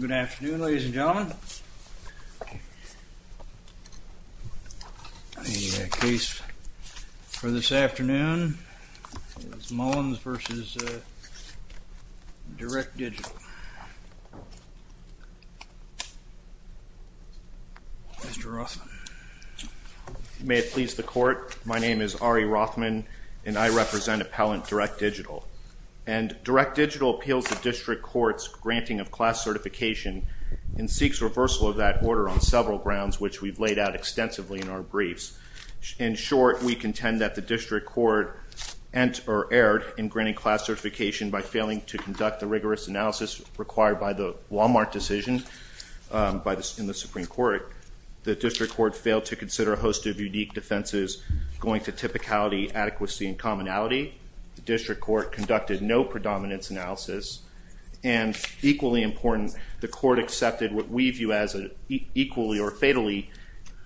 Good afternoon, ladies and gentlemen. The case for this afternoon is Mullins v. Direct Digital. Mr. Rothman. May it please the court, my name is Ari Rothman and I represent Appellant Direct Digital. And Direct Digital appeals to district courts granting of class certification and seeks reversal of that order on several grounds which we've laid out extensively in our briefs. In short, we contend that the district court entered or erred in granting class certification by failing to conduct the rigorous analysis required by the Walmart decision in the Supreme Court. The district court failed to consider a host of unique offenses going to typicality, adequacy, and commonality. The district court conducted no predominance analysis. And equally important, the court accepted what we view as an equally or fatally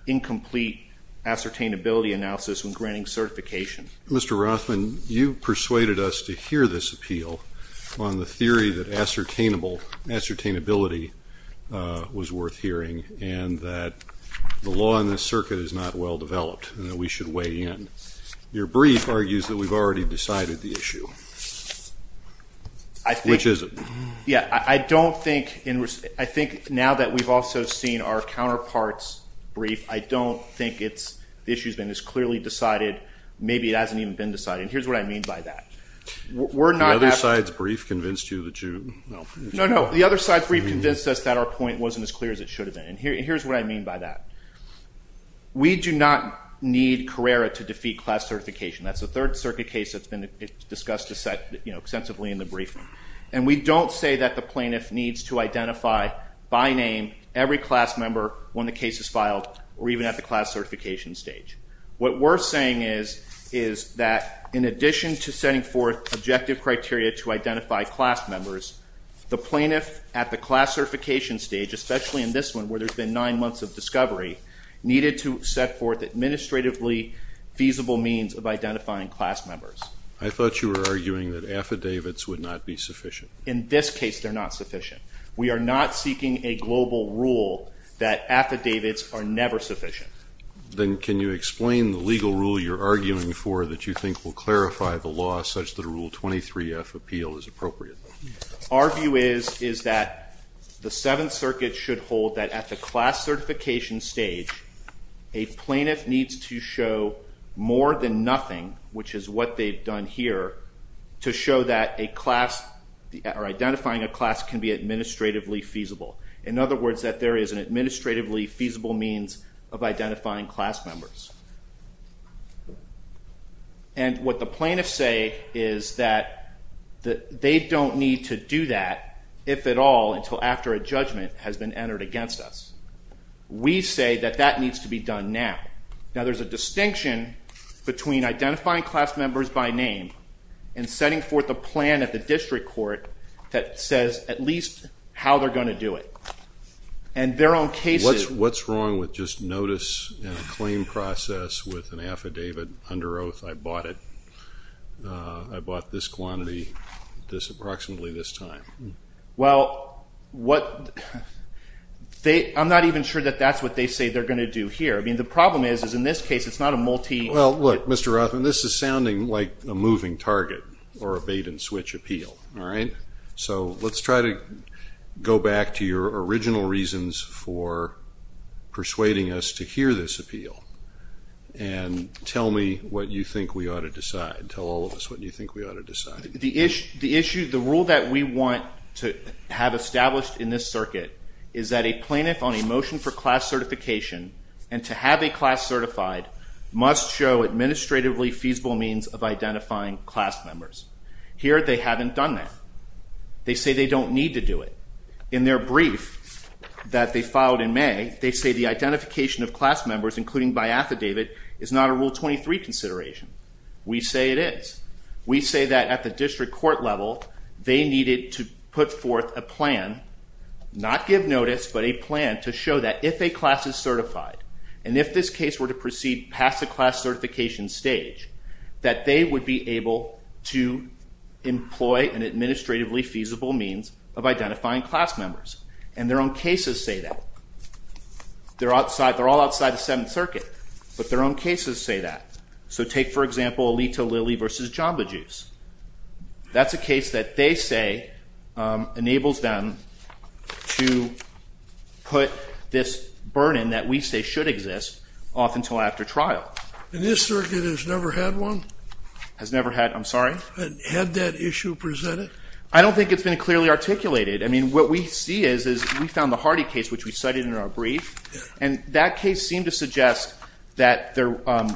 incomplete ascertainability analysis when granting certification. Mr. Rothman, you persuaded us to hear this appeal on the theory that ascertainability was worth hearing and that the law in this circuit is not well developed and that we should weigh in. Your brief argues that we've already decided the issue. Which is it? I think now that we've also seen our counterpart's brief, I don't think the issue has been as clearly decided. Maybe it hasn't even been decided. And here's what I mean by that. The other side's brief convinced you that you... No, no. The other side's brief convinced us that our point wasn't as clear as it should have been. And here's what I mean by that. We do not need Carrera to defeat class certification. That's the third circuit case that's been discussed extensively in the briefing. And we don't say that the plaintiff needs to identify by name every class member when the case is filed or even at the class certification stage. What we're saying is that in addition to setting forth objective criteria to identify class members, the plaintiff at the class certification stage, especially in this one where there's been nine months of discovery, needed to set forth administratively feasible means of identifying class members. I thought you were arguing that affidavits would not be sufficient. In this case, they're not sufficient. We are not seeking a global rule that affidavits are never sufficient. Then can you explain the legal rule you're arguing for that you Our view is that the seventh circuit should hold that at the class certification stage, a plaintiff needs to show more than nothing, which is what they've done here, to show that a class or identifying a class can be administratively feasible. In other words, that there is an administratively feasible means of identifying class members. And what the plaintiffs say is that they don't need to do that, if at all, until after a judgment has been entered against us. We say that that needs to be done now. Now there's a distinction between identifying class members by name and setting forth a plan at the district court that says at least how they're going to do it. And their own cases What's wrong with just notice in a claim process with an affidavit under oath, I bought it. I bought this quantity, this approximately this time. Well, what they I'm not even sure that that's what they say they're going to do here. I mean, the problem is, is in this case, it's not a multi. Well, look, Mr. Rothman, this is sounding like a moving target or a bait and switch appeal. All right. So let's try to go back to your original reasons for persuading us to hear this appeal. And tell me what you think we ought to decide. Tell all of us what you think we ought to decide. The issue, the rule that we want to have established in this circuit is that a plaintiff on a motion for class certification and to have a class certified must show administratively feasible means of identifying class members. Here, they haven't done that. They say they don't need to do it. In their brief that they filed in May, they say the identification of class members, including by affidavit, is not a Rule 23 consideration. We say it is. We say that at the district court level, they needed to put forth a plan, not give notice, but a plan to show that if a class is certified, and if this case were to proceed past the class certification stage, that they would be able to employ an administratively feasible means of identifying class members. And their own cases say that. They're all outside the Seventh Circuit, but their own cases say that. So take, for example, Alito-Lilley versus Jamba Juice. That's a case that they say enables them to put this burden that we say should exist off until after trial. And this circuit has never had one? Has never had, I'm sorry? Had that issue presented? I don't think it's been clearly articulated. I mean, what we see is, we found the Hardy case, which we cited in our brief, and that case seemed to suggest that there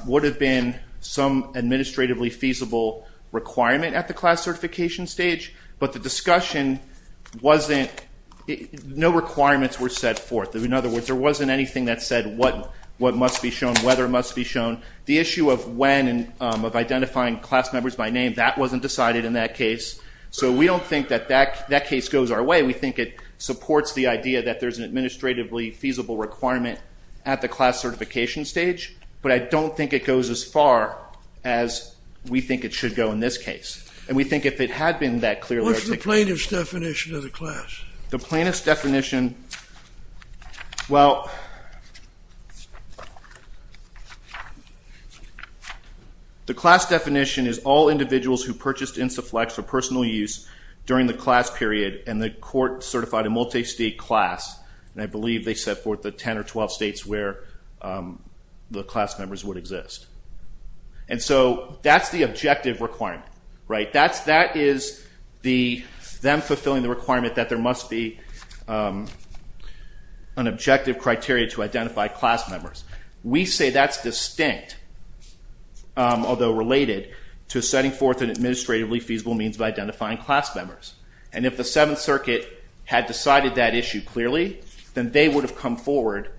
would have been some administratively feasible requirement at the class certification stage, but the discussion wasn't, no requirements were set forth. In other words, there wasn't anything that said what must be shown, whether it must be shown. The issue of when, of identifying class members by name, that wasn't decided in that case. So we don't think that that case goes our way. We think it supports the idea that there's an administratively feasible requirement at the class certification stage, but I don't think it goes as far as we think it should go in this case. And we think if it had been that clearly articulated— What's the plaintiff's definition of the class? The plaintiff's definition, well, the class definition is all individuals who purchased Instaflex for personal use during the class period and the court certified a multi-state class, and I believe they set forth the 10 or 12 states where the class members would exist. And so that's the objective requirement, right? That is them fulfilling the requirement that there must be an objective criteria to identify class members. We say that's distinct, although related, to setting forth an administratively feasible means of identifying class members. And if the Seventh Circuit had decided that issue clearly, then they would have come forward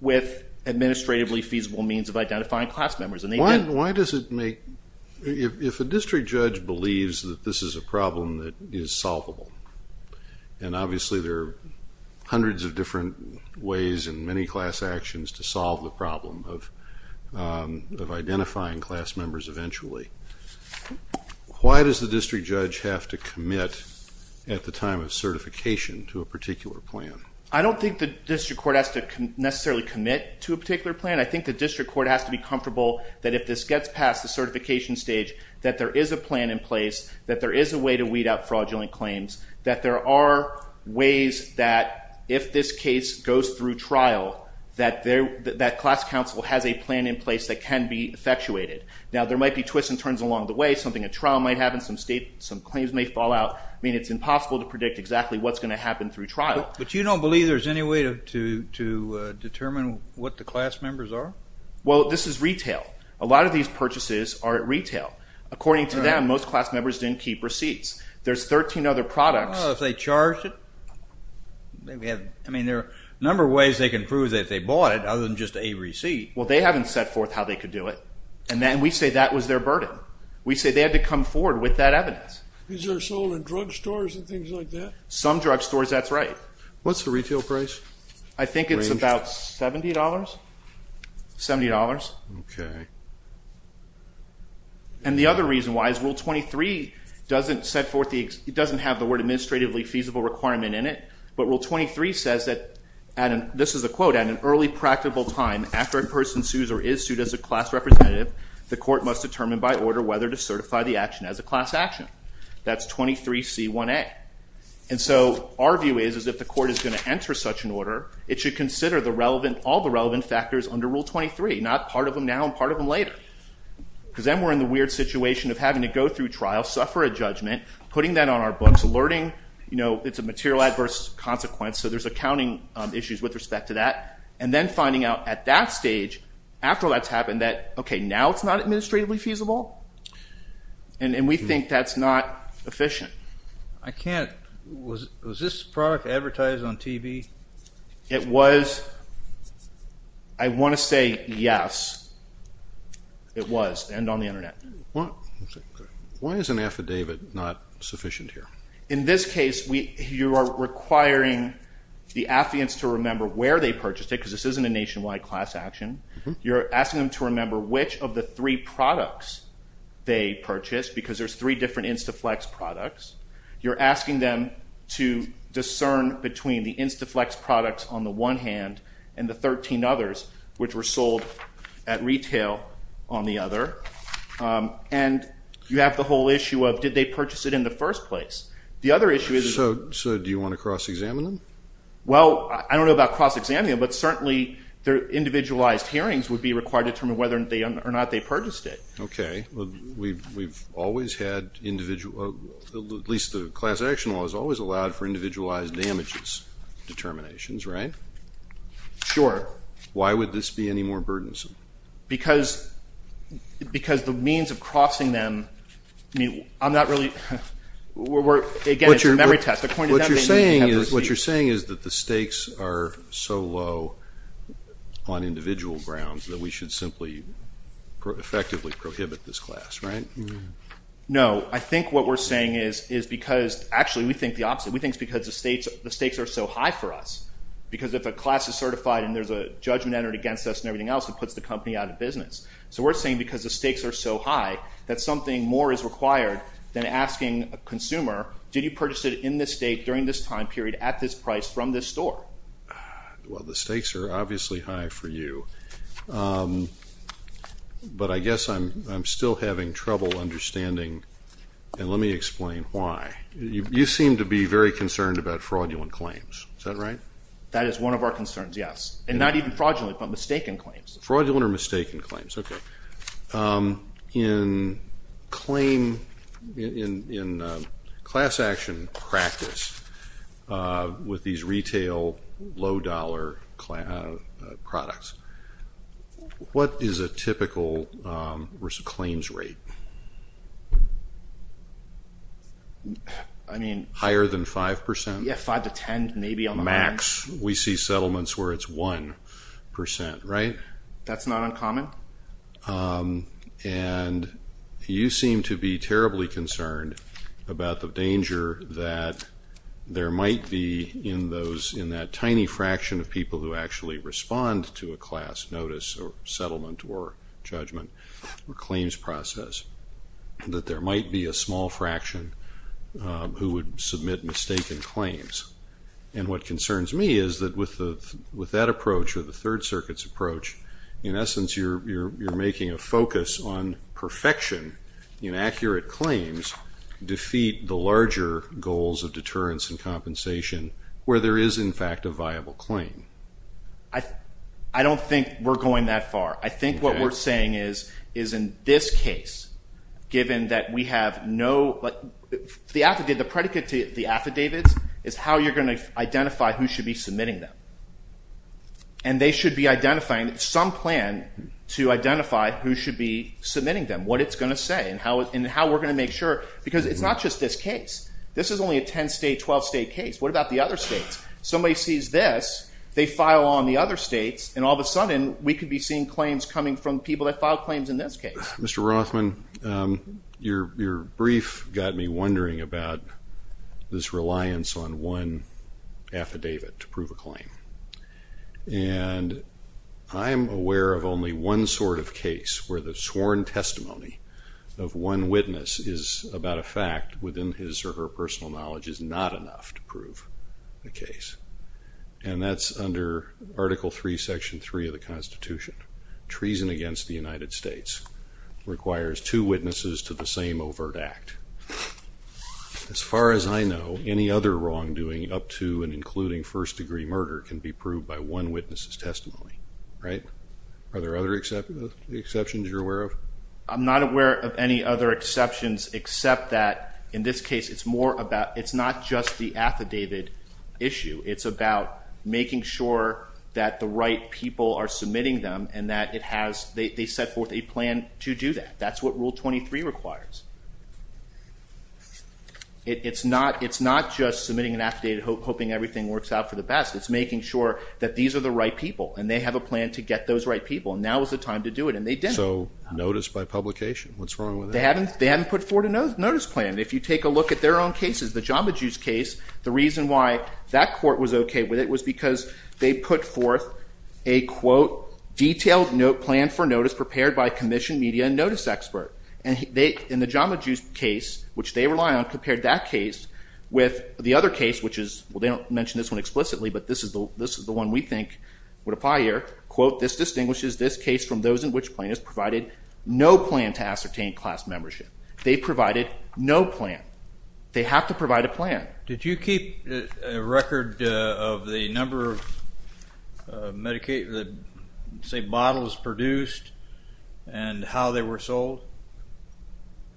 with administratively feasible means of identifying class members, and they didn't. And why does it make—if a district judge believes that this is a problem that is solvable, and obviously there are hundreds of different ways and many class actions to solve the problem of identifying class members eventually, why does the district judge have to commit at the time of certification to a particular plan? I don't think the district court has to necessarily commit to a particular plan. I think the district court has to be comfortable that if this gets past the certification stage, that there is a plan in place, that there is a way to weed out fraudulent claims, that there are ways that if this case goes through trial, that class counsel has a plan in place that can be effectuated. Now, there might be twists and turns along the way. Something—a trial might happen. Some claims may fall out. I mean, it's impossible to predict exactly what's going to happen through trial. But you don't believe there's any way to determine what the class members are? Well, this is retail. A lot of these purchases are at retail. According to them, most class members didn't keep receipts. There's 13 other products— Oh, if they charged it? I mean, there are a number of ways they can prove that they bought it, other than just a receipt. Well, they haven't set forth how they could do it. And we say that was their burden. We say they had to come forward with that evidence. Is there sold in drugstores and things like that? Some drugstores, that's right. What's the retail price? I think it's about $70? $70. Okay. And the other reason why is Rule 23 doesn't set forth the—it doesn't have the word administratively feasible requirement in it. But Rule 23 says that, and this is a quote, at an early practical time, after a person sues or is sued as a class representative, the court must determine by order whether to certify the action as a class action. That's Rule 23C1A. And so our view is, is if the court is going to enter such an order, it should consider the relevant—all the relevant factors under Rule 23, not part of them now and part of them later. Because then we're in the weird situation of having to go through trial, suffer a judgment, putting that on our books, alerting—you know, it's a material adverse consequence, so there's accounting issues with respect to that. And then finding out at that stage, after all that's happened, that, okay, now it's not administratively feasible. And we think that's not efficient. I can't—was this product advertised on TV? It was. I want to say yes, it was, and on the Internet. Why is an affidavit not sufficient here? In this case, you are requiring the affidavits to remember where they purchased it, because this isn't a nationwide class action. You're asking them to remember which of the three products they purchased, because there's three different InstaFlex products. You're asking them to discern between the InstaFlex products on the one hand and the 13 others, which were sold at retail on the other. And you have the whole issue of, did they purchase it in the first place? The other issue is— So do you want to cross-examine them? Well, I don't know about cross-examining them, but certainly their individualized hearings would be required to determine whether or not they purchased it. Okay. We've always had individual—at least the class action law has always allowed for individualized damages determinations, right? Sure. Why would this be any more burdensome? Because the means of crossing them—I'm not really—again, it's a memory test. What you're saying is that the stakes are so low on individual grounds that we should simply effectively prohibit this class, right? No. I think what we're saying is because—actually, we think the opposite. We think it's because the stakes are so high for us, because if a class is certified and there's a judgment entered against us and everything else, it puts the company out of business. So we're saying because the stakes are so high that something more is required than asking a consumer, did you purchase it in this date, during this time period, at this price, from this store? Well, the stakes are obviously high for you. But I guess I'm still having trouble understanding—and let me explain why. You seem to be very concerned about fraudulent claims. Is that right? That is one of our concerns, yes. And not even fraudulently, but mistaken claims. Fraudulent or mistaken claims. Okay. In claim—in class action practice, with these retail, low-dollar products, what is a typical claims rate? I mean— Higher than 5%? Yeah, 5% to 10%, maybe on the higher end. But in facts, we see settlements where it's 1%, right? That's not uncommon? And you seem to be terribly concerned about the danger that there might be in those—in that tiny fraction of people who actually respond to a class notice or settlement or judgment or claims process, that there might be a small fraction who would submit mistaken claims. And what concerns me is that with that approach or the Third Circuit's approach, in essence, you're making a focus on perfection in accurate claims defeat the larger goals of deterrence and compensation where there is, in fact, a viable claim. I don't think we're going that far. I think what we're saying is in this case, given that we have no—the predicate to the affidavits is how you're going to identify who should be submitting them. And they should be identifying some plan to identify who should be submitting them, what it's going to say, and how we're going to make sure—because it's not just this case. This is only a 10-state, 12-state case. What about the other states? Somebody sees this, they file on the other states, and all of a sudden, we could be seeing claims coming from people that filed claims in this case. Mr. Rothman, your brief got me wondering about this reliance on one affidavit to prove a claim. And I am aware of only one sort of case where the sworn testimony of one witness is about a fact within his or her personal knowledge is not enough to prove the case. And that's under Article 3, Section 3 of the Constitution. Treason against the United States requires two witnesses to the same overt act. As far as I know, any other wrongdoing up to and including first-degree murder can be proved by one witness's testimony, right? Are there other exceptions you're aware of? I'm not aware of any other exceptions except that in this case, it's more about—it's not just the affidavit issue. It's about making sure that the right people are submitting them and that it has—they set forth a plan to do that. That's what Rule 23 requires. It's not just submitting an affidavit hoping everything works out for the best. It's making sure that these are the right people, and they have a plan to get those right people, and now is the time to do it, and they didn't. So notice by publication? What's wrong with that? They haven't put forward a notice plan. If you take a look at their own cases, the Jamba Juice case, the reason why that court was okay with it was because they put forth a, quote, detailed plan for notice prepared by a commissioned media and notice expert. And the Jamba Juice case, which they rely on, compared that case with the other case, which is—well, they don't mention this one explicitly, but this is the one we think would apply here. Quote, this distinguishes this case from those in which plaintiffs provided no plan to ascertain class membership. They provided no plan. They have to provide a plan. Did you keep a record of the number of bottles produced and how they were sold?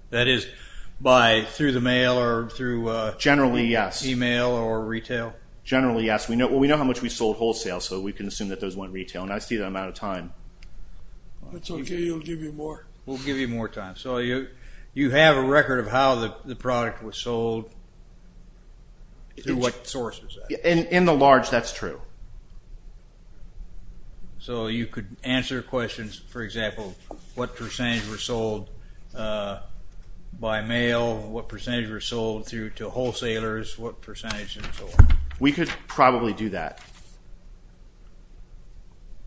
That is, by—through the mail or through email or retail? Generally, yes. Generally, yes. Well, we know how much we sold wholesale, so we can assume that those went retail, and I see that I'm out of time. That's okay. We'll give you more. We'll give you more time. So you have a record of how the product was sold? What source is that? In the large, that's true. So you could answer questions, for example, what percentage were sold by mail, what percentage were sold to wholesalers, what percentage and so on? We could probably do that.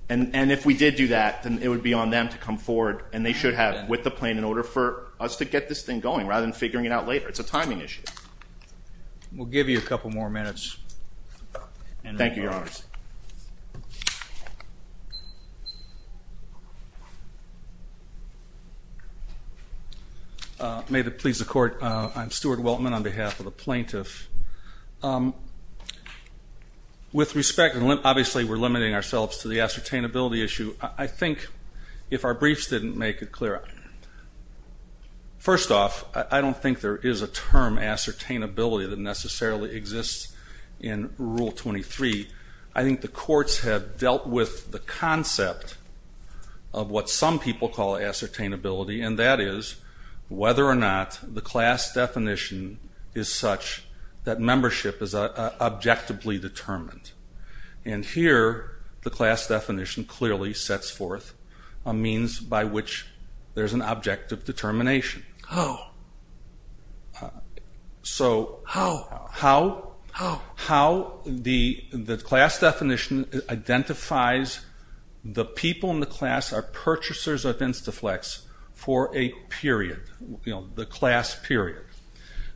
And if we did do that, then it would be on them to come forward, and they should have with the plan in order for us to get this thing going rather than figuring it out later. It's a timing issue. We'll give you a couple more minutes. Thank you, Your Honors. May it please the Court, I'm Stuart Weltman on behalf of the plaintiff. With respect, and obviously we're limiting ourselves to the ascertainability issue, I think if our briefs didn't make it clear, first off, I don't think there is a term ascertainability that necessarily exists in Rule 23. I think the courts have dealt with the concept of what some people call ascertainability, and that is whether or not the class definition is such that membership is objectively determined. And here the class definition clearly sets forth a means by which there's an objective determination. Oh. So how the class definition identifies the people in the class are purchasers of Instaflex for a period, the class period.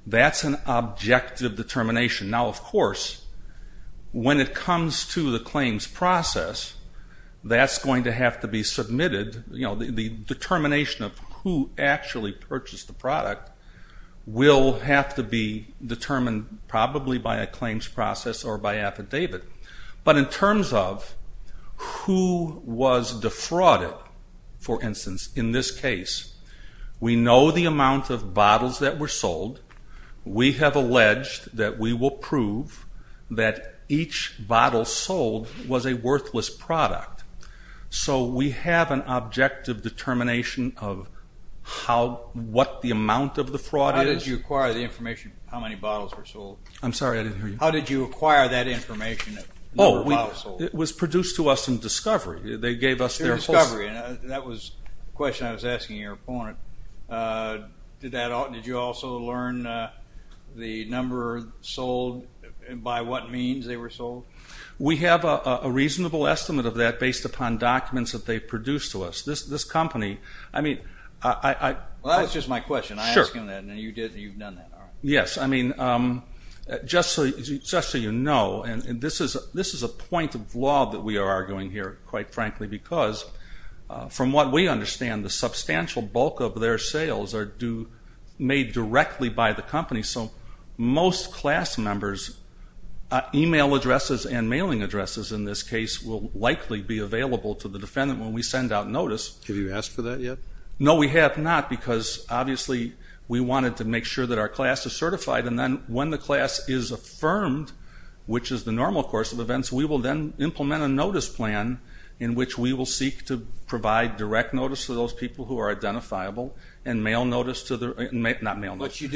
That's an objective determination. Now, of course, when it comes to the claims process, that's going to have to be submitted. The determination of who actually purchased the product will have to be determined probably by a claims process or by affidavit. But in terms of who was defrauded, for instance, in this case, we know the amount of bottles that were sold. We have alleged that we will prove that each bottle sold was a worthless product. So we have an objective determination of what the amount of the fraud is. How did you acquire the information of how many bottles were sold? I'm sorry, I didn't hear you. How did you acquire that information? Oh, it was produced to us in discovery. They gave us their full... In discovery, and that was the question I was asking your opponent. Did you also learn the number sold and by what means they were sold? We have a reasonable estimate of that based upon documents that they produced to us. This company, I mean... Well, that's just my question. Sure. I asked him that, and you've done that. Yes. I mean, just so you know, and this is a point of law that we are arguing here, quite frankly, because from what we understand, the substantial bulk of their sales are made directly by the company. So most class members' e-mail addresses and mailing addresses in this case will likely be available to the defendant when we send out notice. Have you asked for that yet? No, we have not, because obviously we wanted to make sure that our class is certified, and then when the class is affirmed, which is the normal course of events, we will then implement a notice plan in which we will seek to provide direct notice to those people who are identifiable and mail notice to the...not mail notice. But you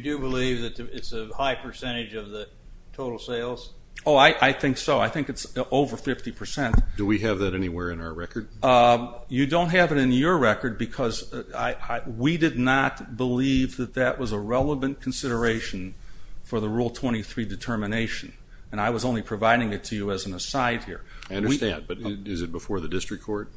do believe that it's a high percentage of the total sales? Oh, I think so. I think it's over 50%. Do we have that anywhere in our record? You don't have it in your record because we did not believe that that was a relevant consideration for the Rule 23 determination, and I was only providing it to you as an aside here. I understand, but is it before the district court?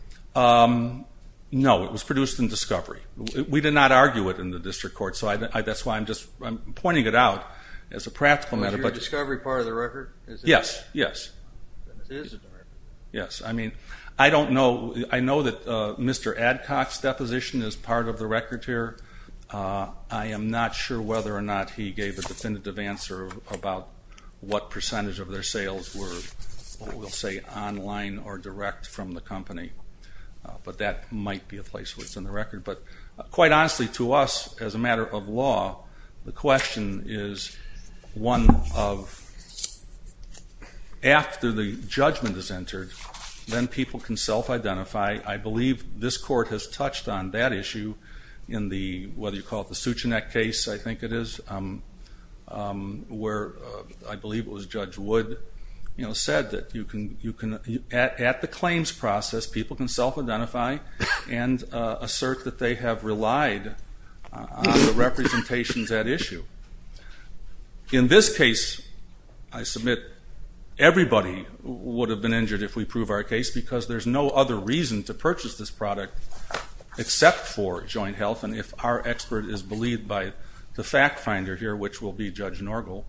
No, it was produced in discovery. We did not argue it in the district court, so that's why I'm just pointing it out as a practical matter. Is your discovery part of the record? Yes, yes. It is a part of the record. Yes, I mean, I don't know. I know that Mr. Adcock's deposition is part of the record here. I am not sure whether or not he gave a definitive answer about what percentage of their sales were, we'll say, online or direct from the company, but that might be a place where it's in the record. But quite honestly, to us, as a matter of law, the question is one of after the judgment is entered, then people can self-identify. I believe this court has touched on that issue in the, whether you call it the Suchanek case, I think it is, where I believe it was Judge Wood, said that at the claims process people can self-identify and assert that they have relied on the representations at issue. In this case, I submit everybody would have been injured if we prove our case because there's no other reason to purchase this product except for joint health. And if our expert is believed by the fact finder here, which will be Judge Norgal,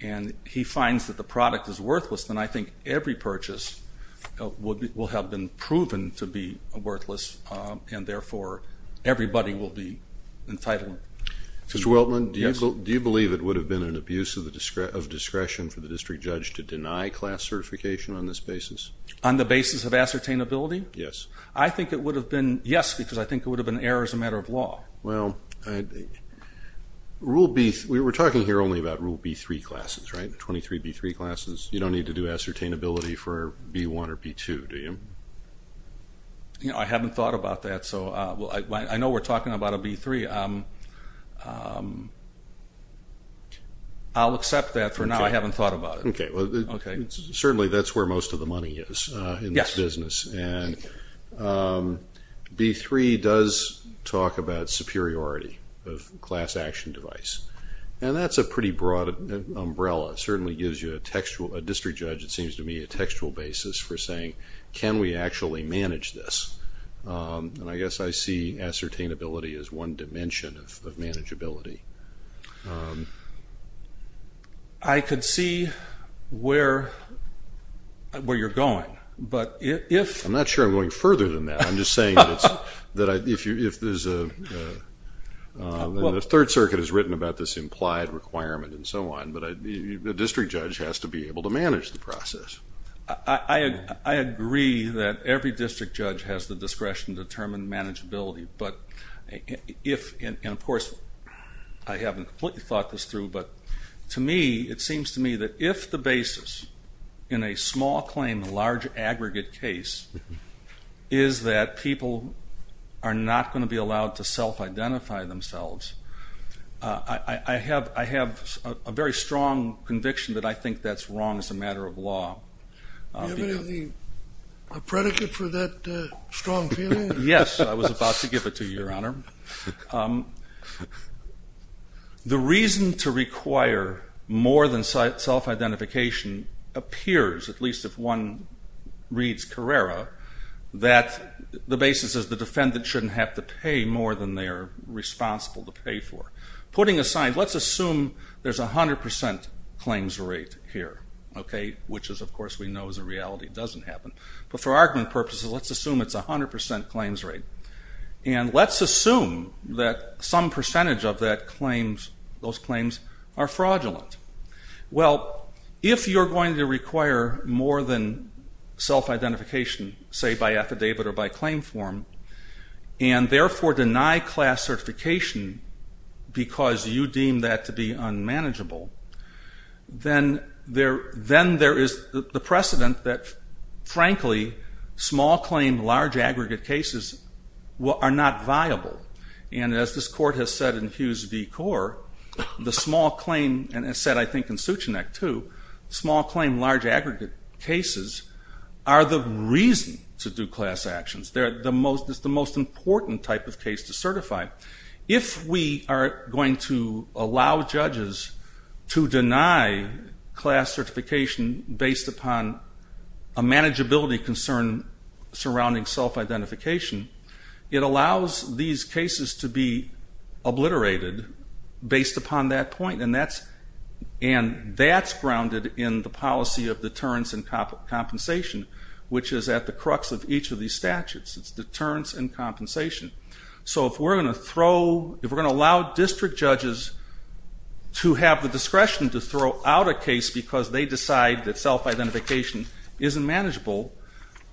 and he finds that the product is worthless, then I think every purchase will have been proven to be worthless and therefore everybody will be entitled. Mr. Weltman, do you believe it would have been an abuse of discretion for the district judge to deny class certification on this basis? On the basis of ascertainability? Yes. I think it would have been, yes, because I think it would have been an error as a matter of law. Well, Rule B, we're talking here only about Rule B3 classes, right, 23B3 classes. You don't need to do ascertainability for B1 or B2, do you? I haven't thought about that. I know we're talking about a B3. I'll accept that for now. I haven't thought about it. Certainly that's where most of the money is in this business. B3 does talk about superiority of class action device, and that's a pretty broad umbrella. It certainly gives you a district judge, it seems to me, a textual basis for saying, can we actually manage this? And I guess I see ascertainability as one dimension of manageability. I could see where you're going. I'm not sure I'm going further than that. I'm just saying that if there's a third circuit has written about this implied requirement and so on, but a district judge has to be able to manage the process. I agree that every district judge has the discretion to determine manageability. And, of course, I haven't completely thought this through, but to me, it seems to me that if the basis in a small claim, large aggregate case, is that people are not going to be allowed to self-identify themselves, I have a very strong conviction that I think that's wrong as a matter of law. Do you have anything, a predicate for that strong feeling? Yes, I was about to give it to you, Your Honor. The reason to require more than self-identification appears, at least if one reads Carrera, that the basis is the defendant shouldn't have to pay more than they're responsible to pay for. Putting aside, let's assume there's 100 percent claims rate here, which is, of course, we know is a reality, doesn't happen. But for argument purposes, let's assume it's 100 percent claims rate. And let's assume that some percentage of those claims are fraudulent. Well, if you're going to require more than self-identification, say by affidavit or by claim form, and therefore deny class certification because you deem that to be unmanageable, then there is the precedent that, frankly, small claim, large aggregate cases are not viable. And as this Court has said in Hughes v. Corr, the small claim, and it's said, I think, in Sucheneck, too, small claim, large aggregate cases are the reason to do class actions. It's the most important type of case to certify. If we are going to allow judges to deny class certification based upon a manageability concern surrounding self-identification, it allows these cases to be obliterated based upon that point. And that's grounded in the policy of deterrence and compensation, which is at the crux of each of these statutes. It's deterrence and compensation. So if we're going to allow district judges to have the discretion to throw out a case because they decide that self-identification isn't manageable,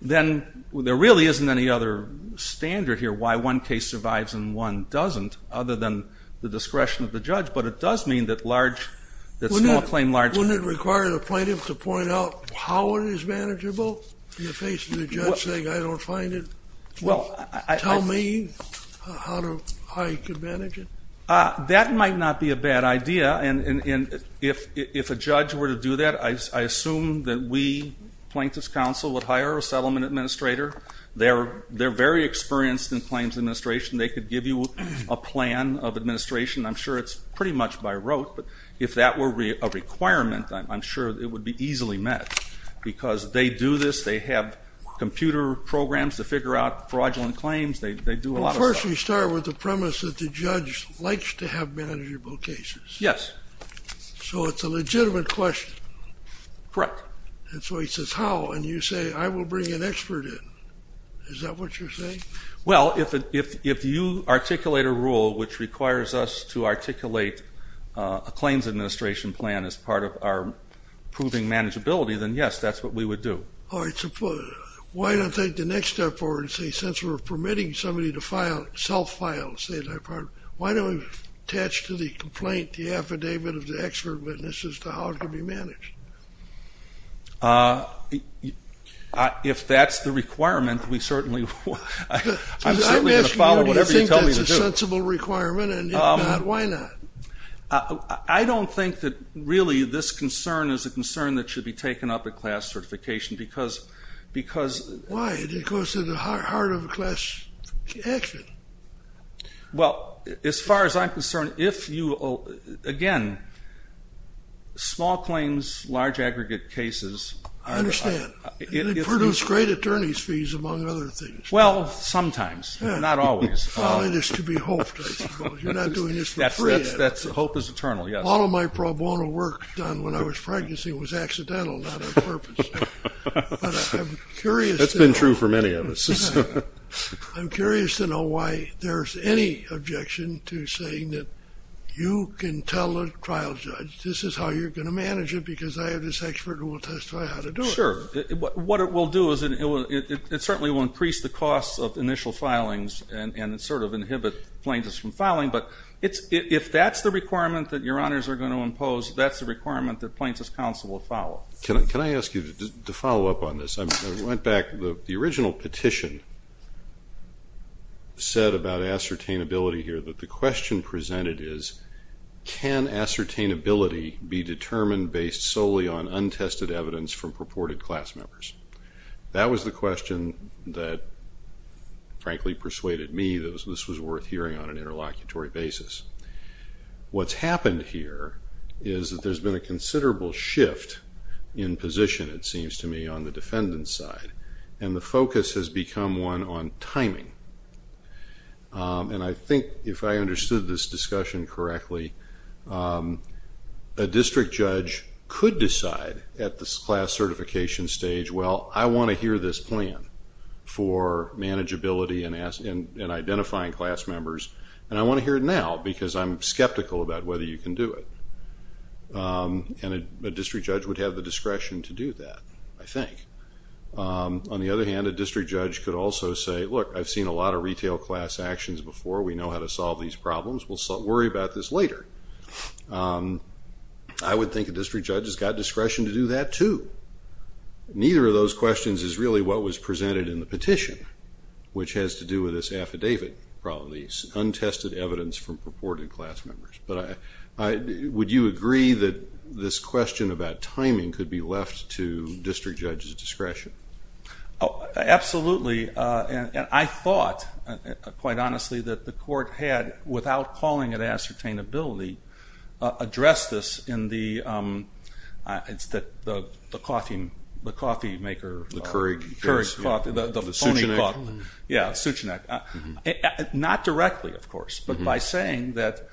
then there really isn't any other standard here why one case survives and one doesn't other than the discretion of the judge. But it does mean that small claim, large... Wouldn't it require the plaintiff to point out how it is manageable in the face of the judge saying, I don't find it? Tell me how you could manage it. That might not be a bad idea. And if a judge were to do that, I assume that we, Plaintiff's Council, would hire a settlement administrator. They're very experienced in claims administration. They could give you a plan of administration. I'm sure it's pretty much by rote. But if that were a requirement, I'm sure it would be easily met because they do this. They have computer programs to figure out fraudulent claims. They do a lot of stuff. Well, first you start with the premise that the judge likes to have manageable cases. Yes. So it's a legitimate question. Correct. And so he says, how? And you say, I will bring an expert in. Is that what you're saying? Well, if you articulate a rule which requires us to articulate a claims administration plan as part of our proving manageability, then yes, that's what we would do. All right. So why don't I take the next step forward and say since we're permitting somebody to file, self-file, say, why don't we attach to the complaint the affidavit of the expert witness as to how it can be managed? If that's the requirement, we certainly will. I'm certainly going to follow whatever you tell me to do. I'm asking do you think that's a sensible requirement, and if not, why not? I don't think that really this concern is a concern that should be taken up at a class certification because... Why? Because at the heart of a class action. Well, as far as I'm concerned, if you, again, small claims, large aggregate cases... I understand. It would produce great attorney's fees, among other things. Well, sometimes. Not always. Only this could be hoped, I suppose. You're not doing this for free. That's right. Hope is eternal, yes. All of my pro bono work done when I was pregnant was accidental, not on purpose. But I'm curious... That's been true for many of us. I'm curious to know why there's any objection to saying that you can tell a trial judge, this is how you're going to manage it because I have this expert who will testify how to do it. Sure. What it will do is it certainly will increase the costs of initial filings and sort of inhibit plaintiffs from filing. But if that's the requirement that your honors are going to impose, that's the requirement that plaintiffs' counsel will follow. Can I ask you to follow up on this? I went back. The original petition said about ascertainability here that the question presented is, can ascertainability be determined based solely on untested evidence from purported class members? That was the question that, frankly, persuaded me that this was worth hearing on an interlocutory basis. What's happened here is that there's been a considerable shift in position, it seems to me, on the defendant's side, and the focus has become one on timing. And I think if I understood this discussion correctly, a district judge could decide at the class certification stage, well, I want to hear this plan for manageability and identifying class members, and I want to hear it now because I'm skeptical about whether you can do it. And a district judge would have the discretion to do that, I think. On the other hand, a district judge could also say, look, I've seen a lot of retail class actions before. We know how to solve these problems. We'll worry about this later. I would think a district judge has got discretion to do that, too. Neither of those questions is really what was presented in the petition, which has to do with this affidavit problem, the untested evidence from purported class members. But would you agree that this question about timing could be left to district judges' discretion? Absolutely. And I thought, quite honestly, that the court had, without calling it ascertainability, addressed this in the coffee maker. The Keurig. Keurig coffee. The Sucheneck. Yeah, Sucheneck. Not directly, of course, but by saying that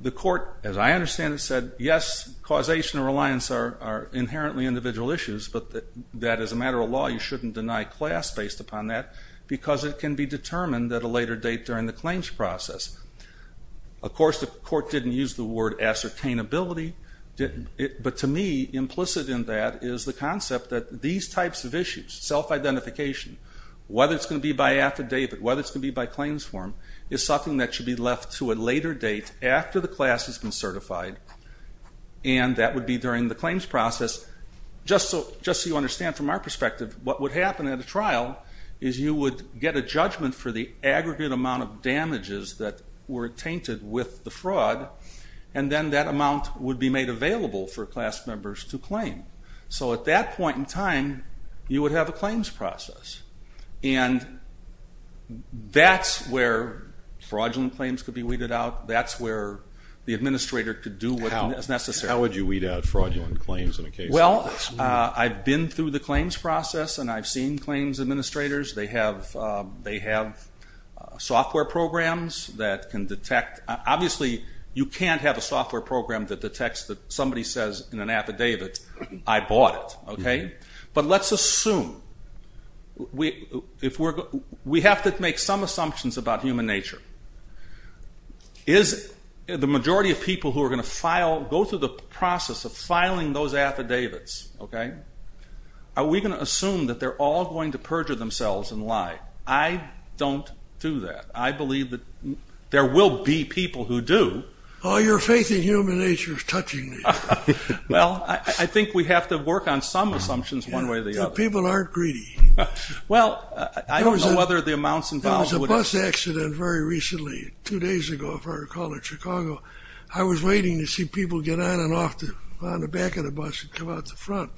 the court, as I understand it, said, yes, causation and reliance are inherently individual issues, but that as a matter of law you shouldn't deny class based upon that because it can be determined at a later date during the claims process. Of course, the court didn't use the word ascertainability, but to me, implicit in that is the concept that these types of issues, self-identification, whether it's going to be by affidavit, whether it's going to be by claims form, is something that should be left to a later date after the class has been certified, and that would be during the claims process. Just so you understand from our perspective, what would happen at a trial is you would get a judgment for the aggregate amount of damages that were tainted with the fraud, and then that amount would be made available for class members to claim. So at that point in time, you would have a claims process, and that's where fraudulent claims could be weeded out. That's where the administrator could do what is necessary. How would you weed out fraudulent claims in a case like this? Well, I've been through the claims process, and I've seen claims administrators. They have software programs that can detect. Obviously, you can't have a software program that detects that somebody says in an affidavit, I bought it. But let's assume. We have to make some assumptions about human nature. Is the majority of people who are going to file, go through the process of filing those affidavits, are we going to assume that they're all going to perjure themselves and lie? I don't do that. I believe that there will be people who do. Oh, your faith in human nature is touching me. Well, I think we have to work on some assumptions one way or the other. People aren't greedy. Well, I don't know whether the amounts involved would help. There was a bus accident very recently, two days ago, if I recall, in Chicago. I was waiting to see people get on and off the back of the bus and come out the front.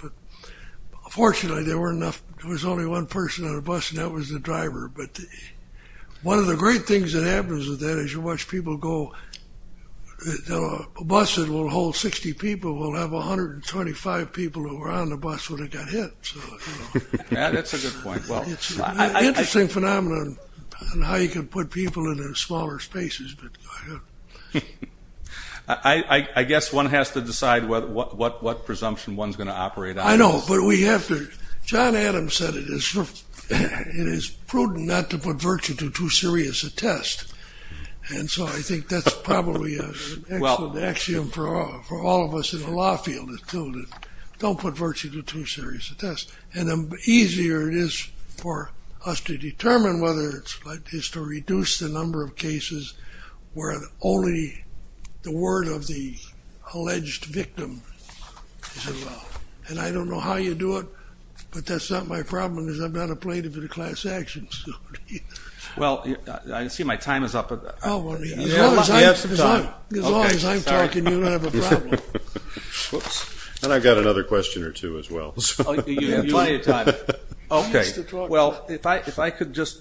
Fortunately, there was only one person on the bus, and that was the driver. One of the great things that happens with that is you watch people go. A bus that will hold 60 people will have 125 people who were on the bus when it got hit. That's a good point. It's an interesting phenomenon on how you can put people in smaller spaces. I guess one has to decide what presumption one's going to operate on. I know, but we have to. John Adams said it is prudent not to put virtue to too serious a test, and so I think that's probably an excellent axiom for all of us in the law field, don't put virtue to too serious a test. The easier it is for us to determine whether it's right is to reduce the number of cases where only the word of the alleged victim is involved. I don't know how you do it, but that's not my problem, because I'm not a plaintiff in a class action suit. Well, I see my time is up. As long as I'm talking, you don't have a problem. And I've got another question or two as well. You have plenty of time. Well, if I could just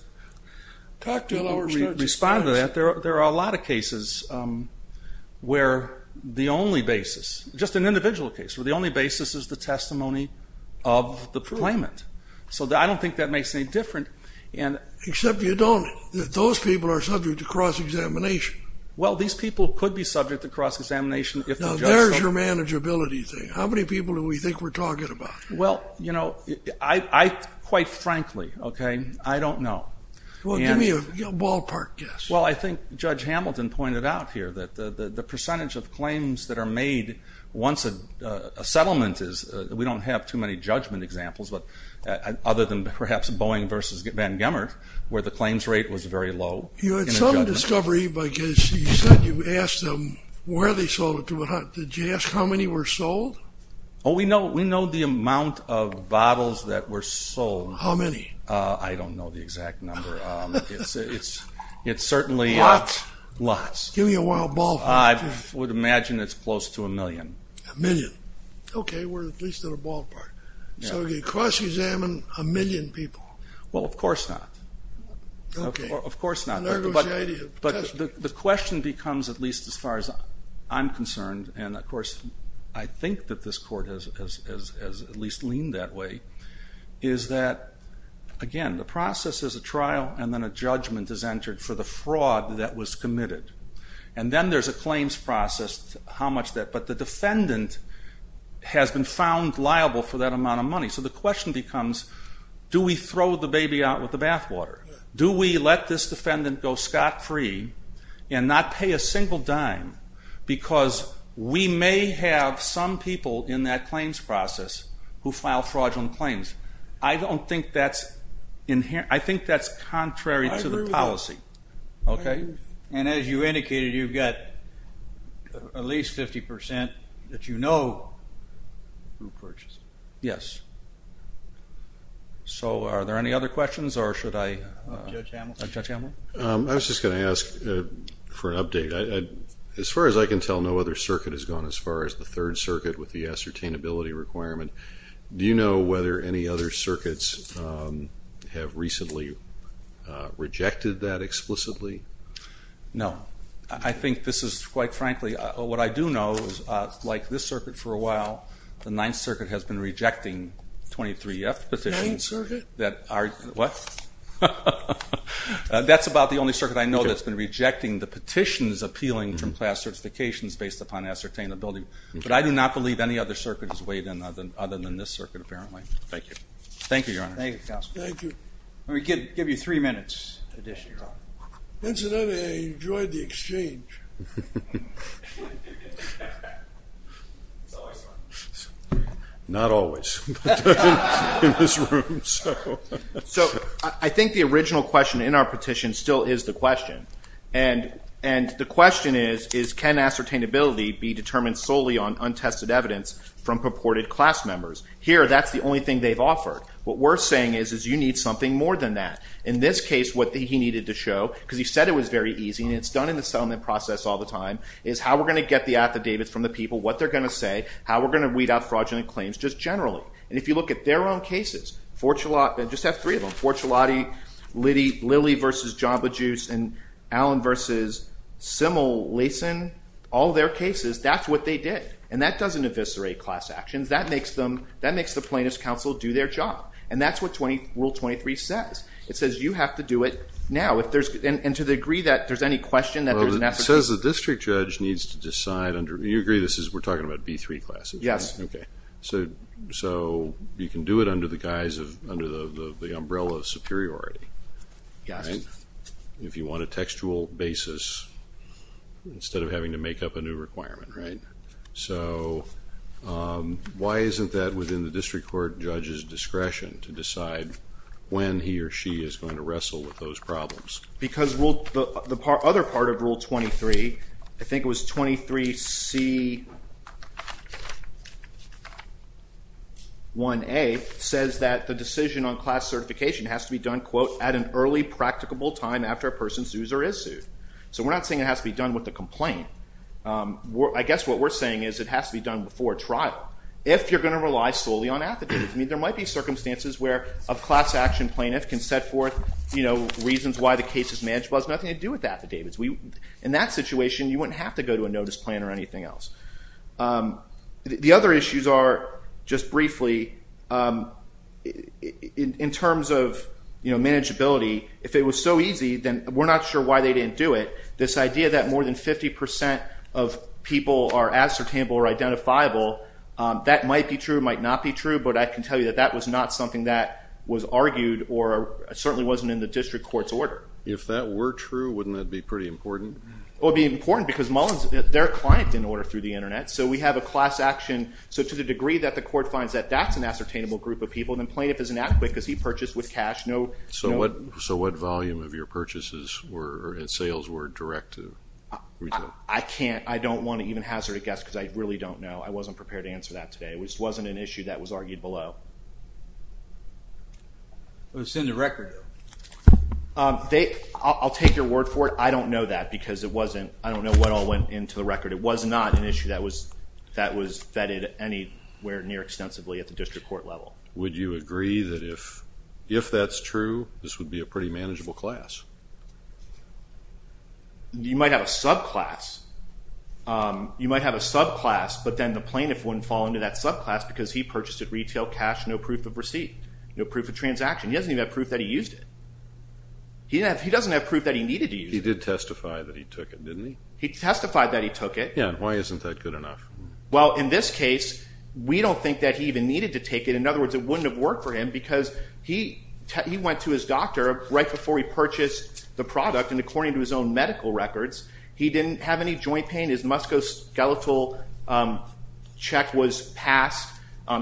respond to that. There are a lot of cases where the only basis, just an individual case, where the only basis is the testimony of the claimant. So I don't think that makes any difference. Except you don't. Those people are subject to cross-examination. Well, these people could be subject to cross-examination. Now, there's your manageability thing. How many people do we think we're talking about? Well, you know, quite frankly, okay, I don't know. Well, give me a ballpark guess. Well, I think Judge Hamilton pointed out here that the percentage of claims that are made once a settlement is, we don't have too many judgment examples, other than perhaps Boeing versus Van Gemmert, where the claims rate was very low. You had some discovery, because you said you asked them where they sold it to. Did you ask how many were sold? Oh, we know the amount of bottles that were sold. How many? I don't know the exact number. It's certainly lots. Give me a wild ballpark guess. I would imagine it's close to a million. A million. Okay, we're at least at a ballpark. So you cross-examine a million people. Well, of course not. Of course not. But the question becomes, at least as far as I'm concerned, and of course I think that this court has at least leaned that way, is that, again, the process is a trial, and then a judgment is entered for the fraud that was committed. And then there's a claims process, how much that. So the question becomes, do we throw the baby out with the bathwater? Do we let this defendant go scot-free and not pay a single dime? Because we may have some people in that claims process who file fraudulent claims. I don't think that's inherent. I think that's contrary to the policy. And as you indicated, you've got at least 50% that you know who purchased it. Yes. So are there any other questions, or should I? Judge Hamilton. Judge Hamilton. I was just going to ask for an update. As far as I can tell, no other circuit has gone as far as the Third Circuit with the ascertainability requirement. Do you know whether any other circuits have recently rejected that explicitly? No. I think this is, quite frankly, what I do know is, like this circuit for a while, the Ninth Circuit has been rejecting 23-F petitions. Ninth Circuit? What? That's about the only circuit I know that's been rejecting the petitions appealing from class certifications based upon ascertainability. But I do not believe any other circuit has weighed in other than this circuit, apparently. Thank you. Thank you, Your Honor. Thank you, Counselor. Let me give you three minutes addition, Your Honor. Incidentally, I enjoyed the exchange. It's always fun. Not always in this room. So I think the original question in our petition still is the question. And the question is, can ascertainability be determined solely on untested evidence from purported class members? Here, that's the only thing they've offered. What we're saying is, is you need something more than that. In this case, what he needed to show, because he said it was very easy, and it's done in the settlement process all the time, is how we're going to get the affidavits from the people, what they're going to say, how we're going to weed out fraudulent claims just generally. And if you look at their own cases, just have three of them, Fortunati, Lilly v. Jamba Juice, and Allen v. Simmel, Lason, all their cases, that's what they did. And that doesn't eviscerate class actions. That makes the plaintiff's counsel do their job. And that's what Rule 23 says. It says you have to do it now. And to the degree that there's any question that there's an ascertainability. It says the district judge needs to decide under, you agree this is, we're talking about B-3 classes. Yes. Okay. So you can do it under the guise of, under the umbrella of superiority. Yes. If you want a textual basis instead of having to make up a new requirement. Right. So why isn't that within the district court judge's discretion to decide when he or she is going to wrestle with those problems? Because the other part of Rule 23, I think it was 23C1A, says that the decision on class certification has to be done, quote, at an early practicable time after a person's dues are issued. So we're not saying it has to be done with a complaint. I guess what we're saying is it has to be done before trial. If you're going to rely solely on affidavits. I mean, there might be circumstances where a class action plaintiff can set forth reasons why the case is manageable. It has nothing to do with affidavits. In that situation, you wouldn't have to go to a notice plan or anything else. The other issues are, just briefly, in terms of manageability, if it was so easy, then we're not sure why they didn't do it. This idea that more than 50 percent of people are ascertainable or identifiable, that might be true, might not be true, but I can tell you that that was not something that was argued or certainly wasn't in the district court's order. If that were true, wouldn't that be pretty important? It would be important because their client didn't order through the Internet. So we have a class action. So to the degree that the court finds that that's an ascertainable group of people, then plaintiff is inadequate because he purchased with cash. So what volume of your purchases and sales were direct to retail? I can't. I don't want to even hazard a guess because I really don't know. I wasn't prepared to answer that today. It wasn't an issue that was argued below. It was in the record, though. I'll take your word for it. I don't know that because I don't know what all went into the record. It was not an issue that was vetted anywhere near extensively at the district court level. Would you agree that if that's true, this would be a pretty manageable class? You might have a subclass. You might have a subclass, but then the plaintiff wouldn't fall into that subclass because he purchased at retail cash, no proof of receipt, no proof of transaction. He doesn't even have proof that he used it. He doesn't have proof that he needed to use it. He did testify that he took it, didn't he? He testified that he took it. Yeah, and why isn't that good enough? Well, in this case, we don't think that he even needed to take it. In other words, it wouldn't have worked for him because he went to his doctor right before he purchased the product, and according to his own medical records, he didn't have any joint pain. His musculoskeletal check was passed.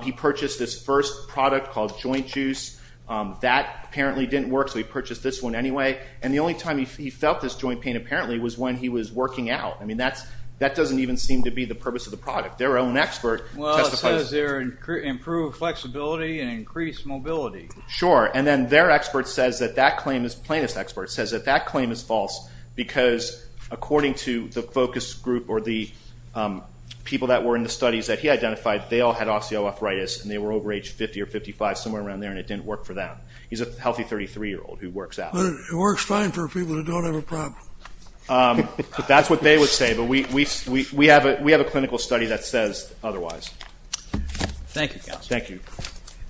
He purchased this first product called Joint Juice. That apparently didn't work, so he purchased this one anyway, and the only time he felt this joint pain apparently was when he was working out. I mean, that doesn't even seem to be the purpose of the product. Their own expert testifies. Well, it says there improved flexibility and increased mobility. Sure, and then their expert says that that claim is, plaintiff's expert says that that claim is false because according to the focus group or the people that were in the studies that he identified, they all had osteoarthritis, and they were over age 50 or 55, somewhere around there, and it didn't work for them. He's a healthy 33-year-old who works out. It works fine for people who don't have a problem. That's what they would say, but we have a clinical study that says otherwise. Thank you, counsel. Thank you.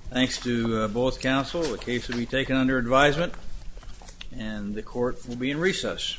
Thanks to both counsel. The case will be taken under advisement, and the court will be in recess.